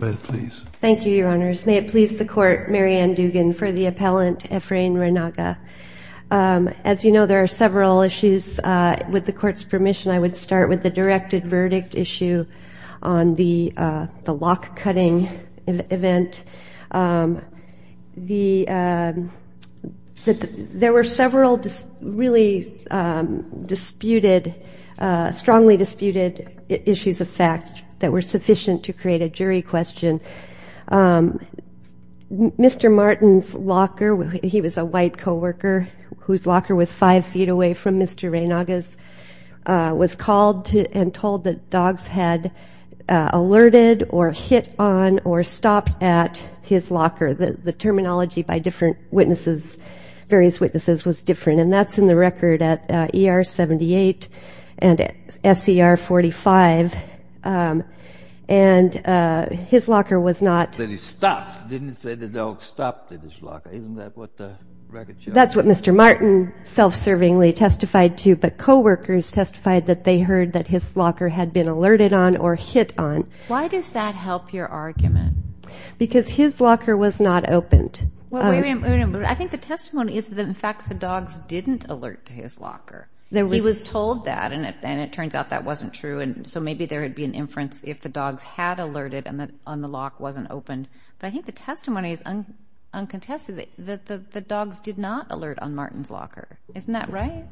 May it please the Court, Mary Ann Dugan, for the appellant Efrain Reynaga. As you know, there are several issues. With the Court's permission, I would start with the directed verdict issue on the lock-cutting event. There were several really strongly disputed issues of fact that were sufficient to create a jury question. Mr. Martin's locker, he was a white co-worker whose locker was five feet away from Mr. Reynaga's, was called and told that dogs had alerted or hit on or stopped at his locker. The terminology by different witnesses, various witnesses, was different, and that's in the record at ER 78 and SCR 45. And his locker was not – That he stopped, didn't say the dog stopped at his locker. Isn't that what the record shows? That's what Mr. Martin self-servingly testified to, but co-workers testified that they heard that his locker had been alerted on or hit on. Why does that help your argument? Because his locker was not opened. I think the testimony is that, in fact, the dogs didn't alert to his locker. He was told that, and it turns out that wasn't true, and so maybe there would be an inference if the dogs had alerted and the lock wasn't opened. But I think the testimony is uncontested that the dogs did not alert on Martin's locker. Isn't that right?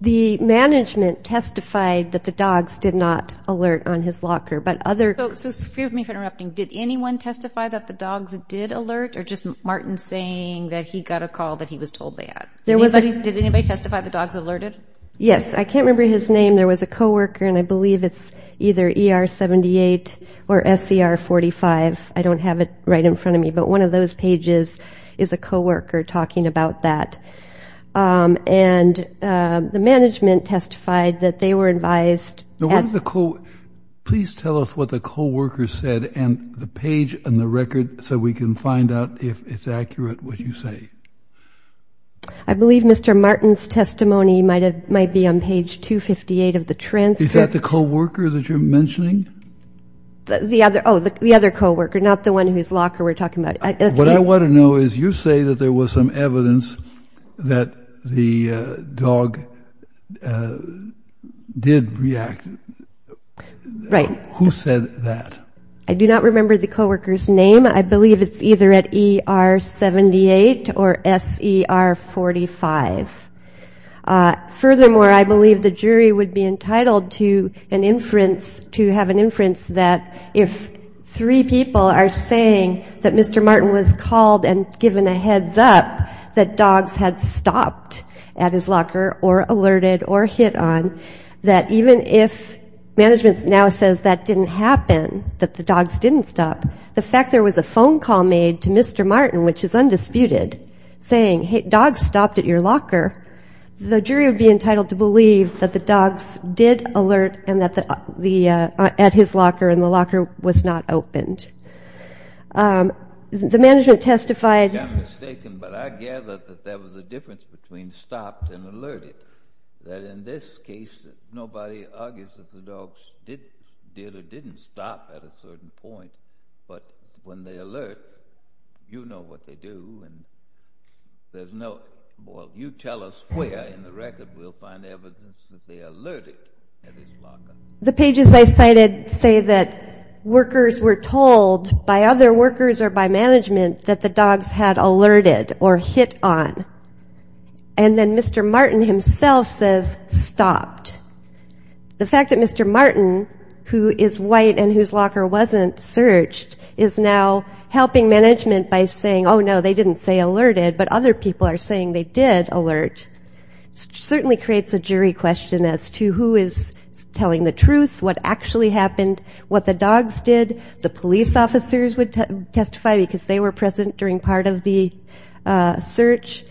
The management testified that the dogs did not alert on his locker, but other – So excuse me for interrupting. Did anyone testify that the dogs did alert, or just Martin saying that he got a call that he was told that? Did anybody testify the dogs alerted? Yes. I can't remember his name. There was a co-worker, and I believe it's either ER 78 or SCR 45. I don't have it right in front of me, but one of those pages is a co-worker talking about that. And the management testified that they were advised – Please tell us what the co-worker said and the page and the record so we can find out if it's accurate what you say. I believe Mr. Martin's testimony might be on page 258 of the transcript. Is that the co-worker that you're mentioning? Oh, the other co-worker, not the one whose locker we're talking about. What I want to know is you say that there was some evidence that the dog did react. Right. Who said that? I do not remember the co-worker's name. I believe it's either at ER 78 or SCR 45. Furthermore, I believe the jury would be entitled to have an inference that if three people are saying that Mr. Martin was called and given a heads up that dogs had stopped at his locker or alerted or hit on, that even if management now says that didn't happen, that the dogs didn't stop, the fact there was a phone call made to Mr. Martin, which is undisputed, saying, hey, dogs stopped at your locker, the jury would be entitled to believe that the dogs did alert at his locker and the locker was not opened. The management testified. I'm mistaken, but I gather that there was a difference between stopped and alerted. That in this case, nobody argues that the dogs did or didn't stop at a certain point, but when they alert, you know what they do and there's no, well, you tell us where in the record we'll find evidence that they alerted at his locker. The pages I cited say that workers were told by other workers or by management that the dogs had alerted or hit on. And then Mr. Martin himself says stopped. The fact that Mr. Martin, who is white and whose locker wasn't searched, is now helping management by saying, oh, no, they didn't say alerted, but other people are saying they did alert, certainly creates a jury question as to who is telling the truth, what actually happened, what the dogs did. The police officers would testify because they were present during part of the search.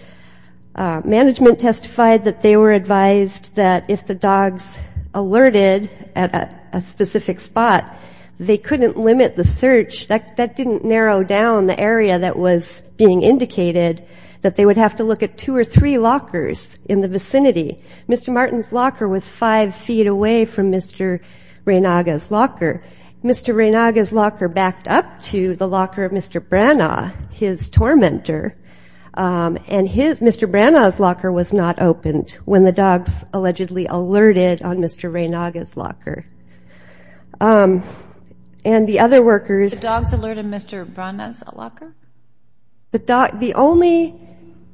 Management testified that they were advised that if the dogs alerted at a specific spot, they couldn't limit the search. That didn't narrow down the area that was being indicated, that they would have to look at two or three lockers in the vicinity. Mr. Martin's locker was five feet away from Mr. Reynaga's locker. Mr. Reynaga's locker backed up to the locker of Mr. Branagh, his tormentor, and Mr. Branagh's locker was not opened when the dogs allegedly alerted on Mr. Reynaga's locker. And the other workers... The only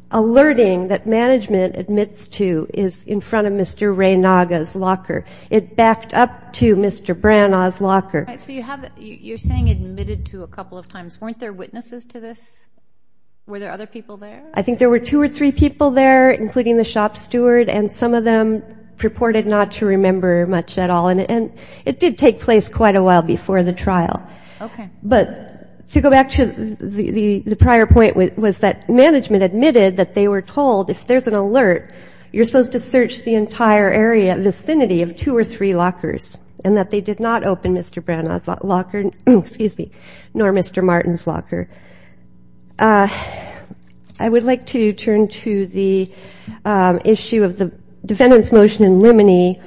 alerting that management admits to is in front of Mr. Reynaga's locker. It backed up to Mr. Branagh's locker. I think there were two or three people there, including the shop steward, and some of them purported not to remember much at all. And it did take place quite a while before the trial. But to go back to the prior point was that management admitted that they were told if there's an alert, you're supposed to search the entire area, vicinity of two or three lockers, and that they did not open Mr. Branagh's locker, excuse me, nor Mr. Martin's locker. I would like to turn to the issue of the defendant's motion in limine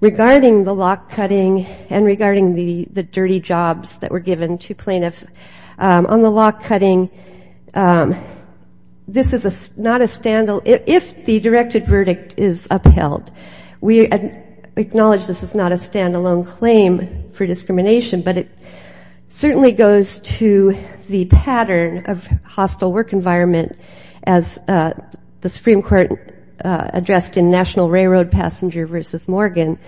regarding the lock cutting and regarding the dirty jobs that were given to plaintiffs on the lock cutting. This is not a stand-alone, if the directed verdict is upheld, we acknowledge this is not a stand-alone claim for discrimination, but it certainly goes to the pattern of hostile work environment, as the Supreme Court addressed in National Railroad Passenger vs. Morgan.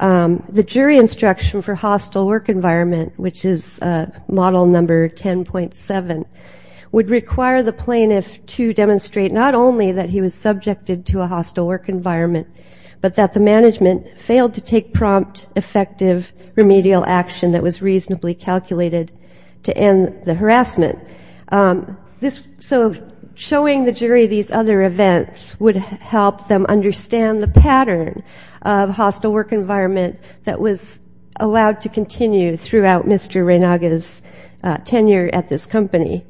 The jury instruction for hostile work environment, which is model number 10.7, is that if the defendant is found guilty of hostile work environment, would require the plaintiff to demonstrate not only that he was subjected to a hostile work environment, but that the management failed to take prompt, effective remedial action that was reasonably calculated to end the harassment. So showing the jury these other events would help them understand the pattern of hostile work environment that was allowed to continue throughout Mr. Branagh's tenure at this company.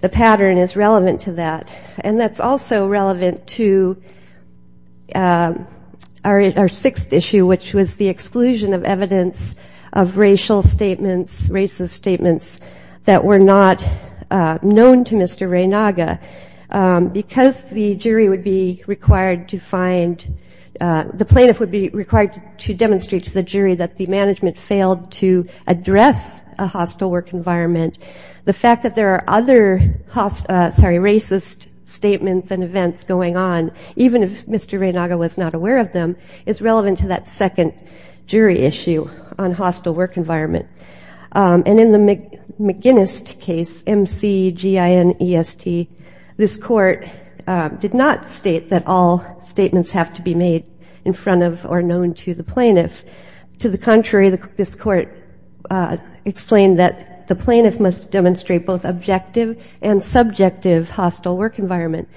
The pattern is relevant to that, and that's also relevant to our sixth issue, which was the exclusion of evidence of racial statements, racist statements that were not known to Mr. Branagh. Because the jury would be required to find, the plaintiff would be required to demonstrate to the jury that the management failed to address a hostile work environment, the fact that there are other racist statements and events going on, even if Mr. Branagh was not aware of them, is relevant to that second jury issue on hostile work environment. And in the McGinnist case, M-C-G-I-N-E-S-T, this court did not state that all statements have to be made in front of or known to the jury, but it did explain that the plaintiff must demonstrate both objective and subjective hostile work environment.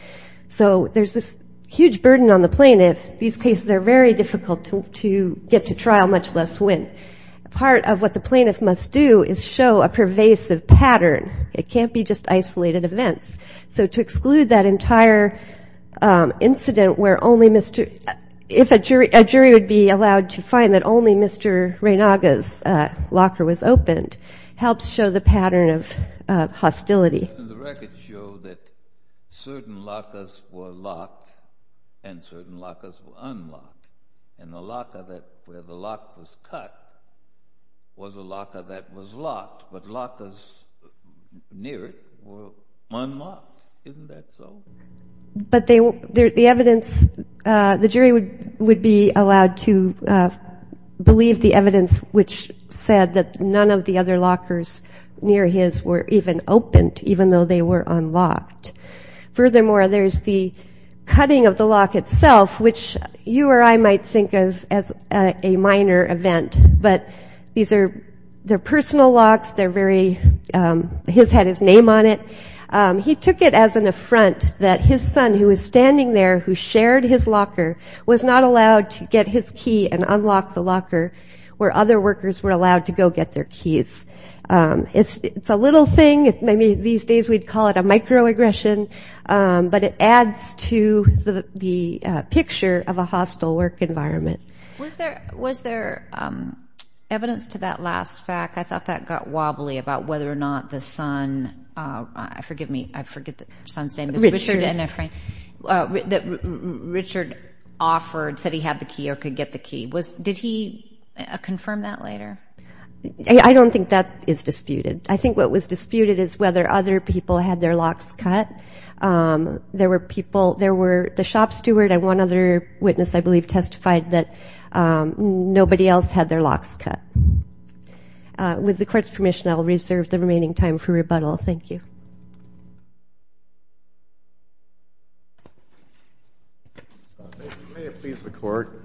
So there's this huge burden on the plaintiff, these cases are very difficult to get to trial, much less win. Part of what the plaintiff must do is show a pervasive pattern, it can't be just isolated events. So to exclude that entire incident where only Mr. If a jury, a jury would be allowed to find that only Mr. Branagh's lawful locker was opened, helps show the pattern of hostility. The records show that certain lockers were locked and certain lockers were unlocked, and the locker where the lock was cut was a locker that was locked, but lockers near it were unlocked, isn't that so? But the evidence, the jury would be allowed to believe the evidence which said that the lockers were unlocked. But none of the other lockers near his were even opened, even though they were unlocked. Furthermore, there's the cutting of the lock itself, which you or I might think of as a minor event, but these are, they're personal locks, they're very, his had his name on it, he took it as an affront that his son who was standing there who shared his locker was not allowed to get his key and unlock the locker where other workers were allowed to go get their keys. It's a little thing, maybe these days we'd call it a microaggression, but it adds to the picture of a hostile work environment. Was there evidence to that last fact, I thought that got wobbly about whether or not the son, forgive me, I forget the son's name, Richard, that Richard offered, said he had the key or could get the key, did he confirm that later? I don't think that is disputed, I think what was disputed is whether other people had their locks cut, there were people, there were, the shop steward and one other witness I believe testified that nobody else had their locks cut. With the court's permission I will reserve the remaining time for rebuttal, thank you. If you may please the court,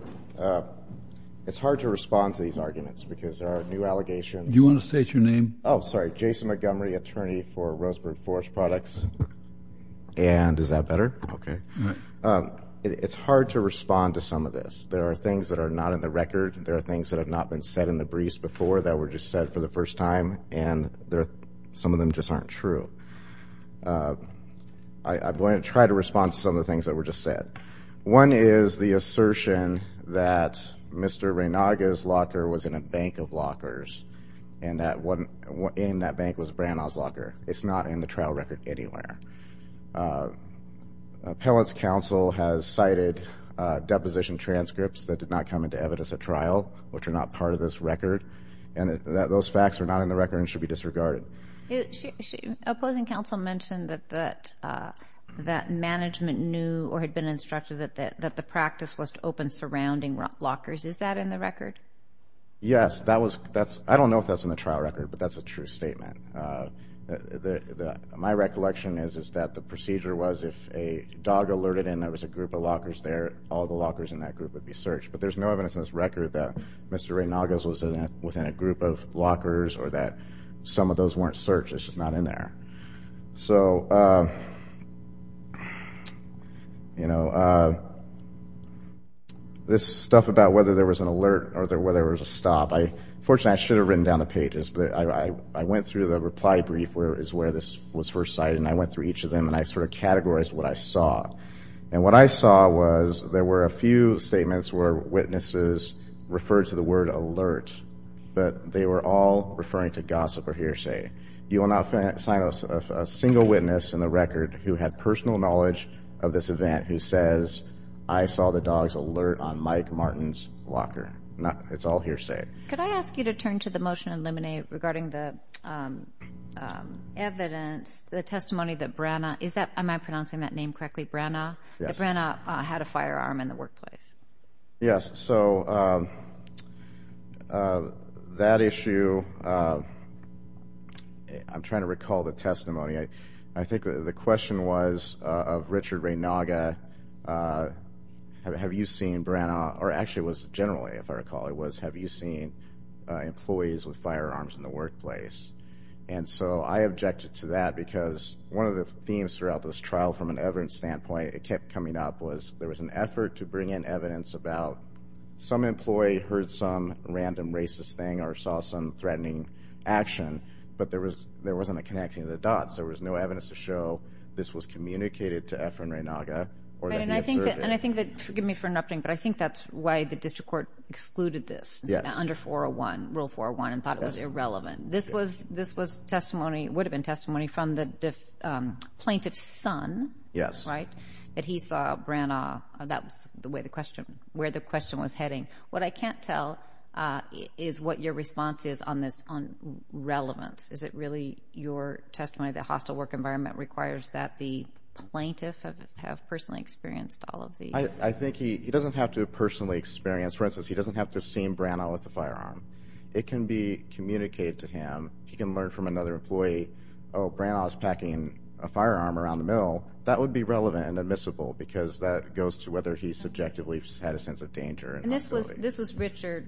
it's hard to respond to these arguments because there are new allegations. Do you want to state your name? Oh, sorry, Jason Montgomery, attorney for Roseburg Forest Products, and is that better? Okay. It's hard to respond to some of this, there are things that are not in the record, there are things that have not been said in the briefs before that I'm going to try to respond to some of the things that were just said. One is the assertion that Mr. Reynaga's locker was in a bank of lockers, and that in that bank was Branagh's locker, it's not in the trial record anywhere. Appellant's counsel has cited deposition transcripts that did not come into evidence at trial, which are not part of this record, and that those facts are not in the record and should be disregarded. That management knew or had been instructed that the practice was to open surrounding lockers, is that in the record? Yes, I don't know if that's in the trial record, but that's a true statement. My recollection is that the procedure was if a dog alerted in that there was a group of lockers there, all the lockers in that group would be searched, but there's no evidence in this record that Mr. Reynaga's was in a group of lockers or that some of those weren't searched, it's just not in there. So, you know, this stuff about whether there was an alert or whether there was a stop, unfortunately I should have written down the pages, but I went through the reply brief is where this was first cited, and I went through each of them and I sort of categorized what I saw. And what I saw was there were a few statements where witnesses referred to the word alert, but they were all referring to gossip or hearsay. You will not find a single witness in the record who had personal knowledge of this event who says, I saw the dog's alert on Mike Martin's locker. It's all hearsay. Could I ask you to turn to the motion and eliminate regarding the evidence, the testimony that Branagh, is that, am I pronouncing that name correctly, Branagh, that Branagh had a firearm in the workplace? Yes. I'm trying to recall the testimony. I think the question was of Richard Reynaga, have you seen Branagh, or actually it was generally, if I recall, it was have you seen employees with firearms in the workplace? And so I objected to that because one of the themes throughout this trial from an evidence standpoint, it kept coming up was there was an effort to bring in evidence about some employee heard some random racist thing or saw some threatening action, but there wasn't a connecting the dots. There was no evidence to show this was communicated to Efren Reynaga or that he observed it. And I think that, forgive me for interrupting, but I think that's why the district court excluded this under 401, rule 401, and thought it was irrelevant. This was testimony, would have been testimony from the plaintiff's son, that he saw Branagh, that's where the question was heading. What I can't tell is what your response is on this, on relevance. Is it really your testimony that hostile work environment requires that the plaintiff have personally experienced all of these? I think he doesn't have to personally experience, for instance, he doesn't have to have seen Branagh with a firearm. It can be communicated to him. He can learn from another employee, oh, Branagh's packing a firearm around the mill. That would be relevant and admissible because that goes to whether he subjectively had a sense of danger. And this was Richard,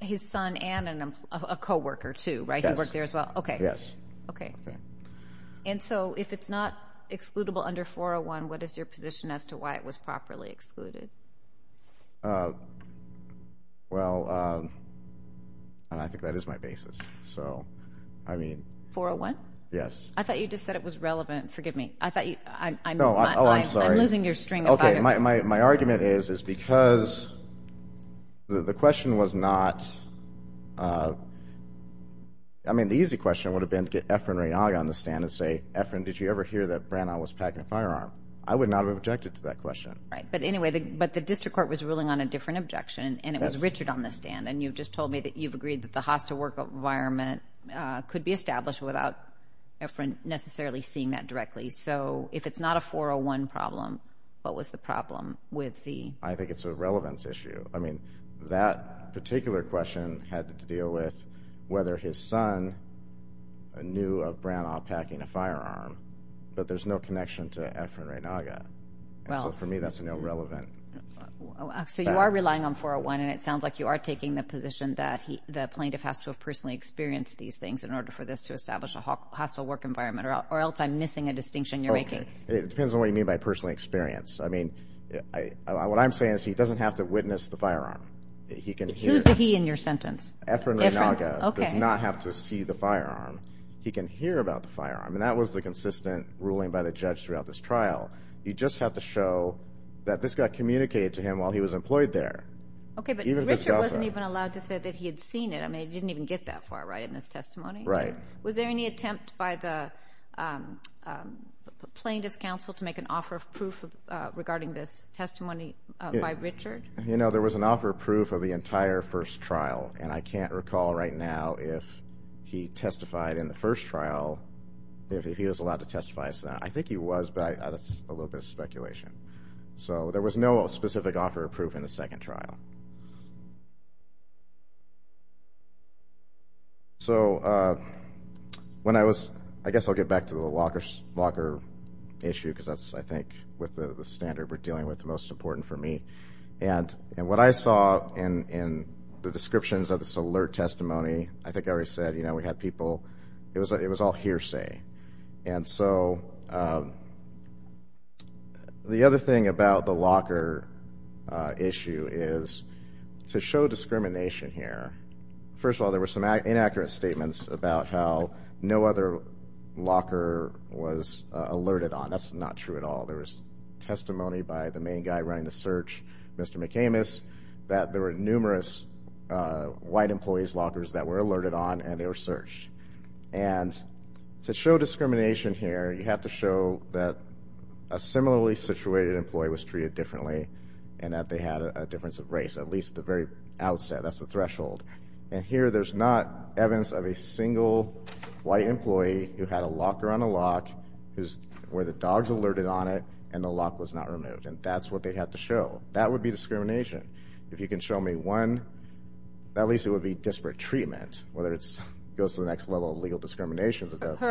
his son and a co-worker too, right? He worked there as well? Yes. And so if it's not excludable under 401, what is your position as to why it was properly excluded? Well, I think that is my basis. 401? Yes. I thought you just said it was relevant. Forgive me. I'm losing your string of thought. Okay, my argument is, is because the question was not, I mean, the easy question would have been to get Efren Ranog on the stand and say, Efren, did you ever hear that Branagh was packing a firearm? I would not have objected to that question. Right. But anyway, but the district court was ruling on a different objection and it was Richard on the stand. And you've just told me that you've agreed that the hostile work environment could be established without Efren necessarily seeing that directly. So if it's not a 401 problem, what was the problem with the... I think it's a relevance issue. I mean, that particular question had to deal with whether his son knew of Branagh packing a firearm, but there's no connection to Efren Ranog. So for me, that's no relevant. So you are relying on 401 and it sounds like you are taking the position that the plaintiff has to have personally experienced these things in order for this to establish a hostile work environment, or else I'm missing a distinction you're making. It depends on what you mean by personally experienced. I mean, what I'm saying is he doesn't have to witness the firearm. Who's the he in your sentence? Efren Ranog does not have to see the firearm. He can hear about the firearm. And that was the consistent ruling by the judge throughout this trial. You just have to show that this got communicated to him while he was employed there. Okay. But Richard wasn't even allowed to say that he had seen it. I mean, he didn't even get that far right in his testimony. Was there any attempt by the plaintiff's counsel to make an offer of proof regarding this testimony by Richard? You know, there was an offer of proof of the entire first trial. And I can't recall right now if he testified in the first trial, if he was allowed to testify. I think he was, but that's a little bit of speculation. So there was no specific offer of proof in the second trial. So when I was—I guess I'll get back to the Walker issue, because that's, I think, with the standard we're dealing with, the most important for me. And what I saw in the descriptions of this alert testimony, I think I already said, you know, we had people—it was all hearsay. And so the other thing about the Walker issue is, to show discrimination here, first of all, there were some inaccurate statements about how no other Walker was alerted on. That's not true at all. There was testimony by the main guy running the search, Mr. McAmis, that there were numerous white employees' Walkers that were alerted on and they were searched. And to show discrimination here, you have to show that a similarly situated employee was treated differently and that they had a difference of race, at least at the very outset. That's the threshold. And here there's not evidence of a single white employee who had a Walker on a lock, where the dogs alerted on it, and the lock was not removed. And that's what they had to show. That would be discrimination. If you can show me one, at least it would be disparate treatment, whether it goes to the next level of legal discrimination. Her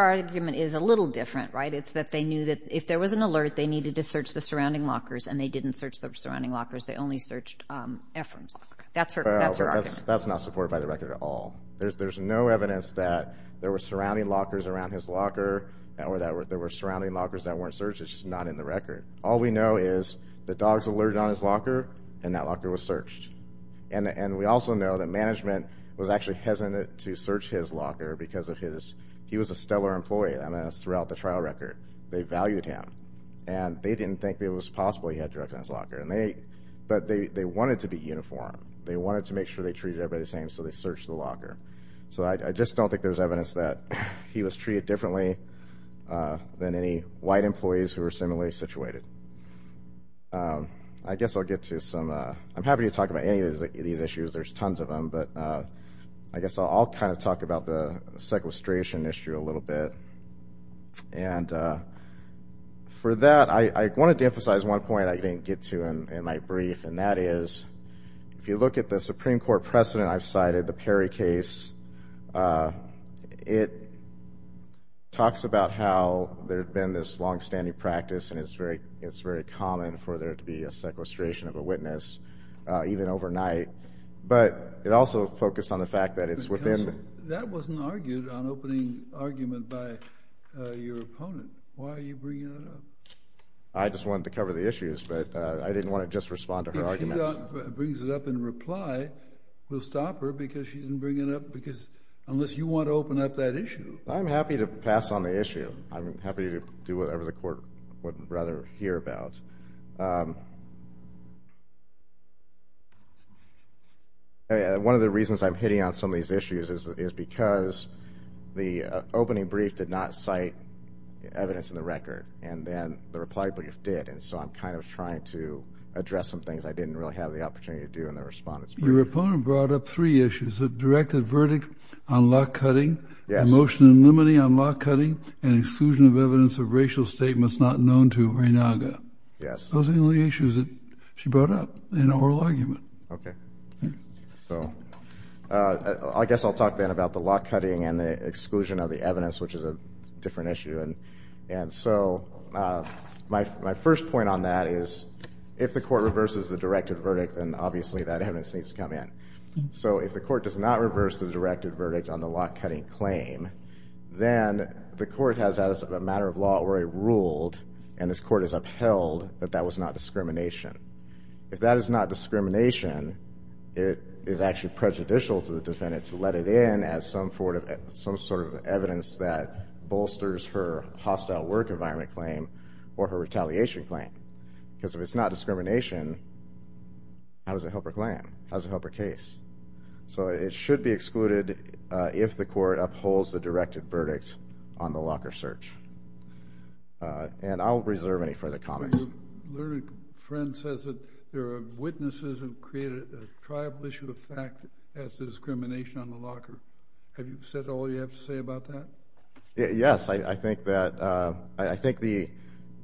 argument is a little different, right? It's that they knew that if there was an alert, they needed to search the surrounding Walkers, and they didn't search the surrounding Walkers. They only searched Ephraim's Locker. That's her argument. There's no evidence that there were surrounding Walkers around his Locker, or that there were surrounding Walkers that weren't searched. It's just not in the record. All we know is the dogs alerted on his Locker, and that Locker was searched. And we also know that management was actually hesitant to search his Locker because he was a stellar employee. And that's throughout the trial record. They valued him. And they didn't think it was possible he had drugs in his Locker. But they wanted to be uniform. They wanted to make sure they treated everybody the same, so they searched the Locker. So I just don't think there's evidence that he was treated differently than any white employees who were similarly situated. I'm happy to talk about any of these issues. There's tons of them. But I guess I'll kind of talk about the sequestration issue a little bit. And for that, I wanted to emphasize one point I didn't get to in my brief, and that is, if you look at the Supreme Court precedent I've cited, the Perry case, it talks about how there had been this longstanding practice, and it's very common for there to be a sequestration of a witness, even overnight. But it also focused on the fact that it's within the— Counsel, that wasn't argued on opening argument by your opponent. Why are you bringing that up? I just wanted to cover the issues, but I didn't want to just respond to her arguments. If she brings it up in reply, we'll stop her because she didn't bring it up because—unless you want to open up that issue. I'm happy to pass on the issue. I'm happy to do whatever the Court would rather hear about. One of the reasons I'm hitting on some of these issues is because the opening brief did not cite evidence in the record, and then the reply brief did, and so I'm kind of trying to address some things I didn't really have the opportunity to do in the respondent's brief. Your opponent brought up three issues, the directed verdict on lock-cutting, the motion in limine on lock-cutting, and exclusion of evidence of racial statements not known to Raynaga. Those are the only issues that she brought up in oral argument. Okay. So I guess I'll talk then about the lock-cutting and the exclusion of the evidence, which is a different issue. And so my first point on that is if the Court reverses the directed verdict, then obviously that evidence needs to come in. So if the Court does not reverse the directed verdict on the lock-cutting claim, then the Court has, as a matter of law, already ruled, and this Court has upheld, that that was not discrimination. If that is not discrimination, it is actually prejudicial to the defendant to let it in as some sort of evidence that bolsters her hostile work environment claim or her retaliation claim, because if it's not discrimination, how does it help her claim? How does it help her case? So it should be excluded if the Court upholds the directed verdict on the locker search. And I won't reserve any further comments. Your friend says that there are witnesses who have created a tribal issue of fact that has discrimination on the locker. Have you said all you have to say about that? Yes, I think that, I think the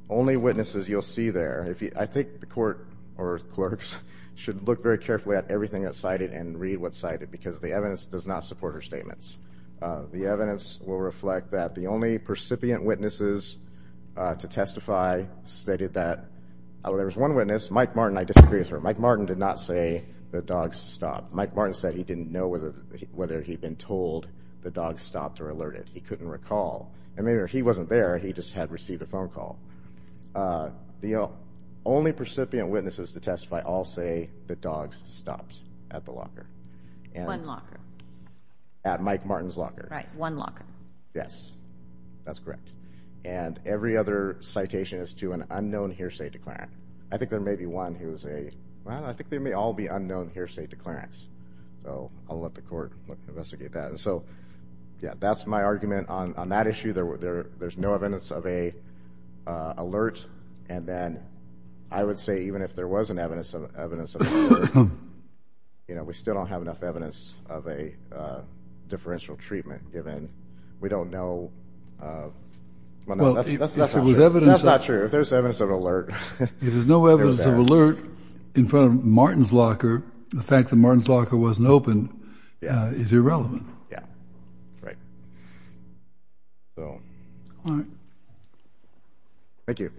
only witnesses you'll see there, I think the Court or clerks should look very carefully at everything that's cited and read what's cited, because the evidence does not support her statements. The evidence will reflect that the only percipient witnesses to testify stated that, well, there was one witness, Mike Martin, I disagree with her, Mike Martin did not say the dogs stopped. He couldn't recall, and maybe he wasn't there, he just had received a phone call. The only percipient witnesses to testify all say the dogs stopped at the locker. One locker. At Mike Martin's locker. Right, one locker. Yes, that's correct. And every other citation is to an unknown hearsay declarant. I think there may be one who's a, well, I think there may all be unknown hearsay declarants. So I'll let the Court investigate that. So, yeah, that's my argument on that issue. There's no evidence of an alert, and then I would say even if there was an evidence of an alert, you know, we still don't have enough evidence of a differential treatment given we don't know. Well, if there was evidence of an alert. That's not true. If there's evidence of an alert. If there's no evidence of an alert in front of Martin's locker, the fact that Martin's locker wasn't open is irrelevant. Yeah. Right. So. All right. Thank you.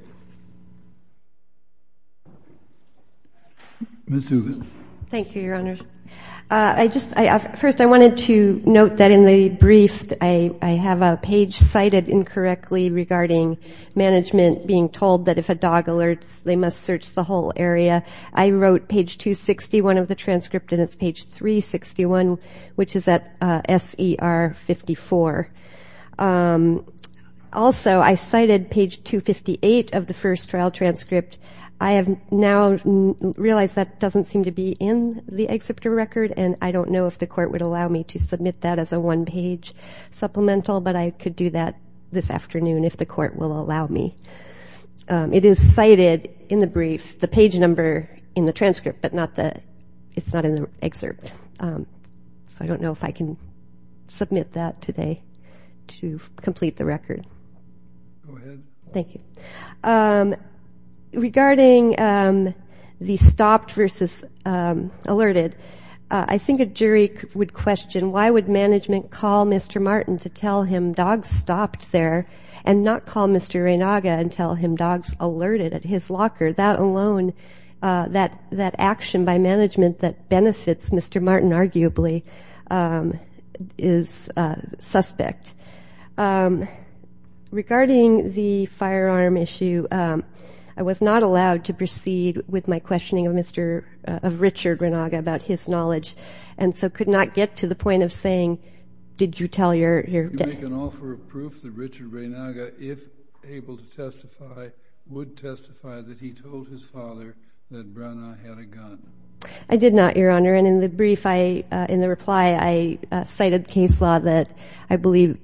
Ms. Dugan. Thank you, Your Honors. First, I wanted to note that in the brief, I have a page cited incorrectly regarding management being told that if a dog alerts, they must search the whole area. I wrote page 261 of the transcript, and it's page 361, which is at SER 54. Also, I cited page 258 of the first trial transcript. I have now realized that doesn't seem to be in the excerpt of the record, and I don't know if the court would allow me to submit that as a one-page supplemental, but I could do that this afternoon if the court will allow me. It is cited in the brief, the page number in the transcript, but it's not in the excerpt. So I don't know if I can submit that today to complete the record. Go ahead. Thank you. Regarding the stopped versus alerted, I think a jury would question, why would management call Mr. Martin to tell him dogs stopped there and not call Mr. Reinaga and tell him dogs alerted at his locker? That alone, that action by management that benefits Mr. Martin, arguably, is suspect. Regarding the firearm issue, I was not allowed to proceed with my questioning of Richard Reinaga about his knowledge and so could not get to the point of saying, did you tell your dad? You make an offer of proof that Richard Reinaga, if able to testify, would testify that he told his father that Branagh had a gun. I did not, Your Honor. And in the brief, in the reply, I cited case law that I believe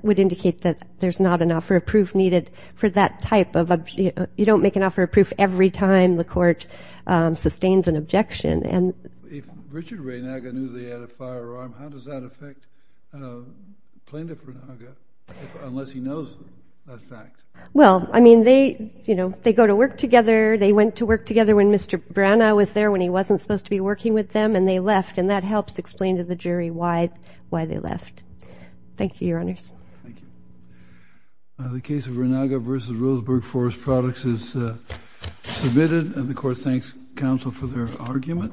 would indicate that there's not an offer of proof needed for that type of objection. You don't make an offer of proof every time the court sustains an objection. If Richard Reinaga knew they had a firearm, how does that affect Plaintiff Reinaga unless he knows that fact? Well, I mean, they go to work together. They went to work together when Mr. Branagh was there, when he wasn't supposed to be working with them, and they left. And that helps explain to the jury why they left. Thank you, Your Honors. Thank you. The case of Reinaga v. Roseburg Forest Products is submitted. And the court thanks counsel for their argument.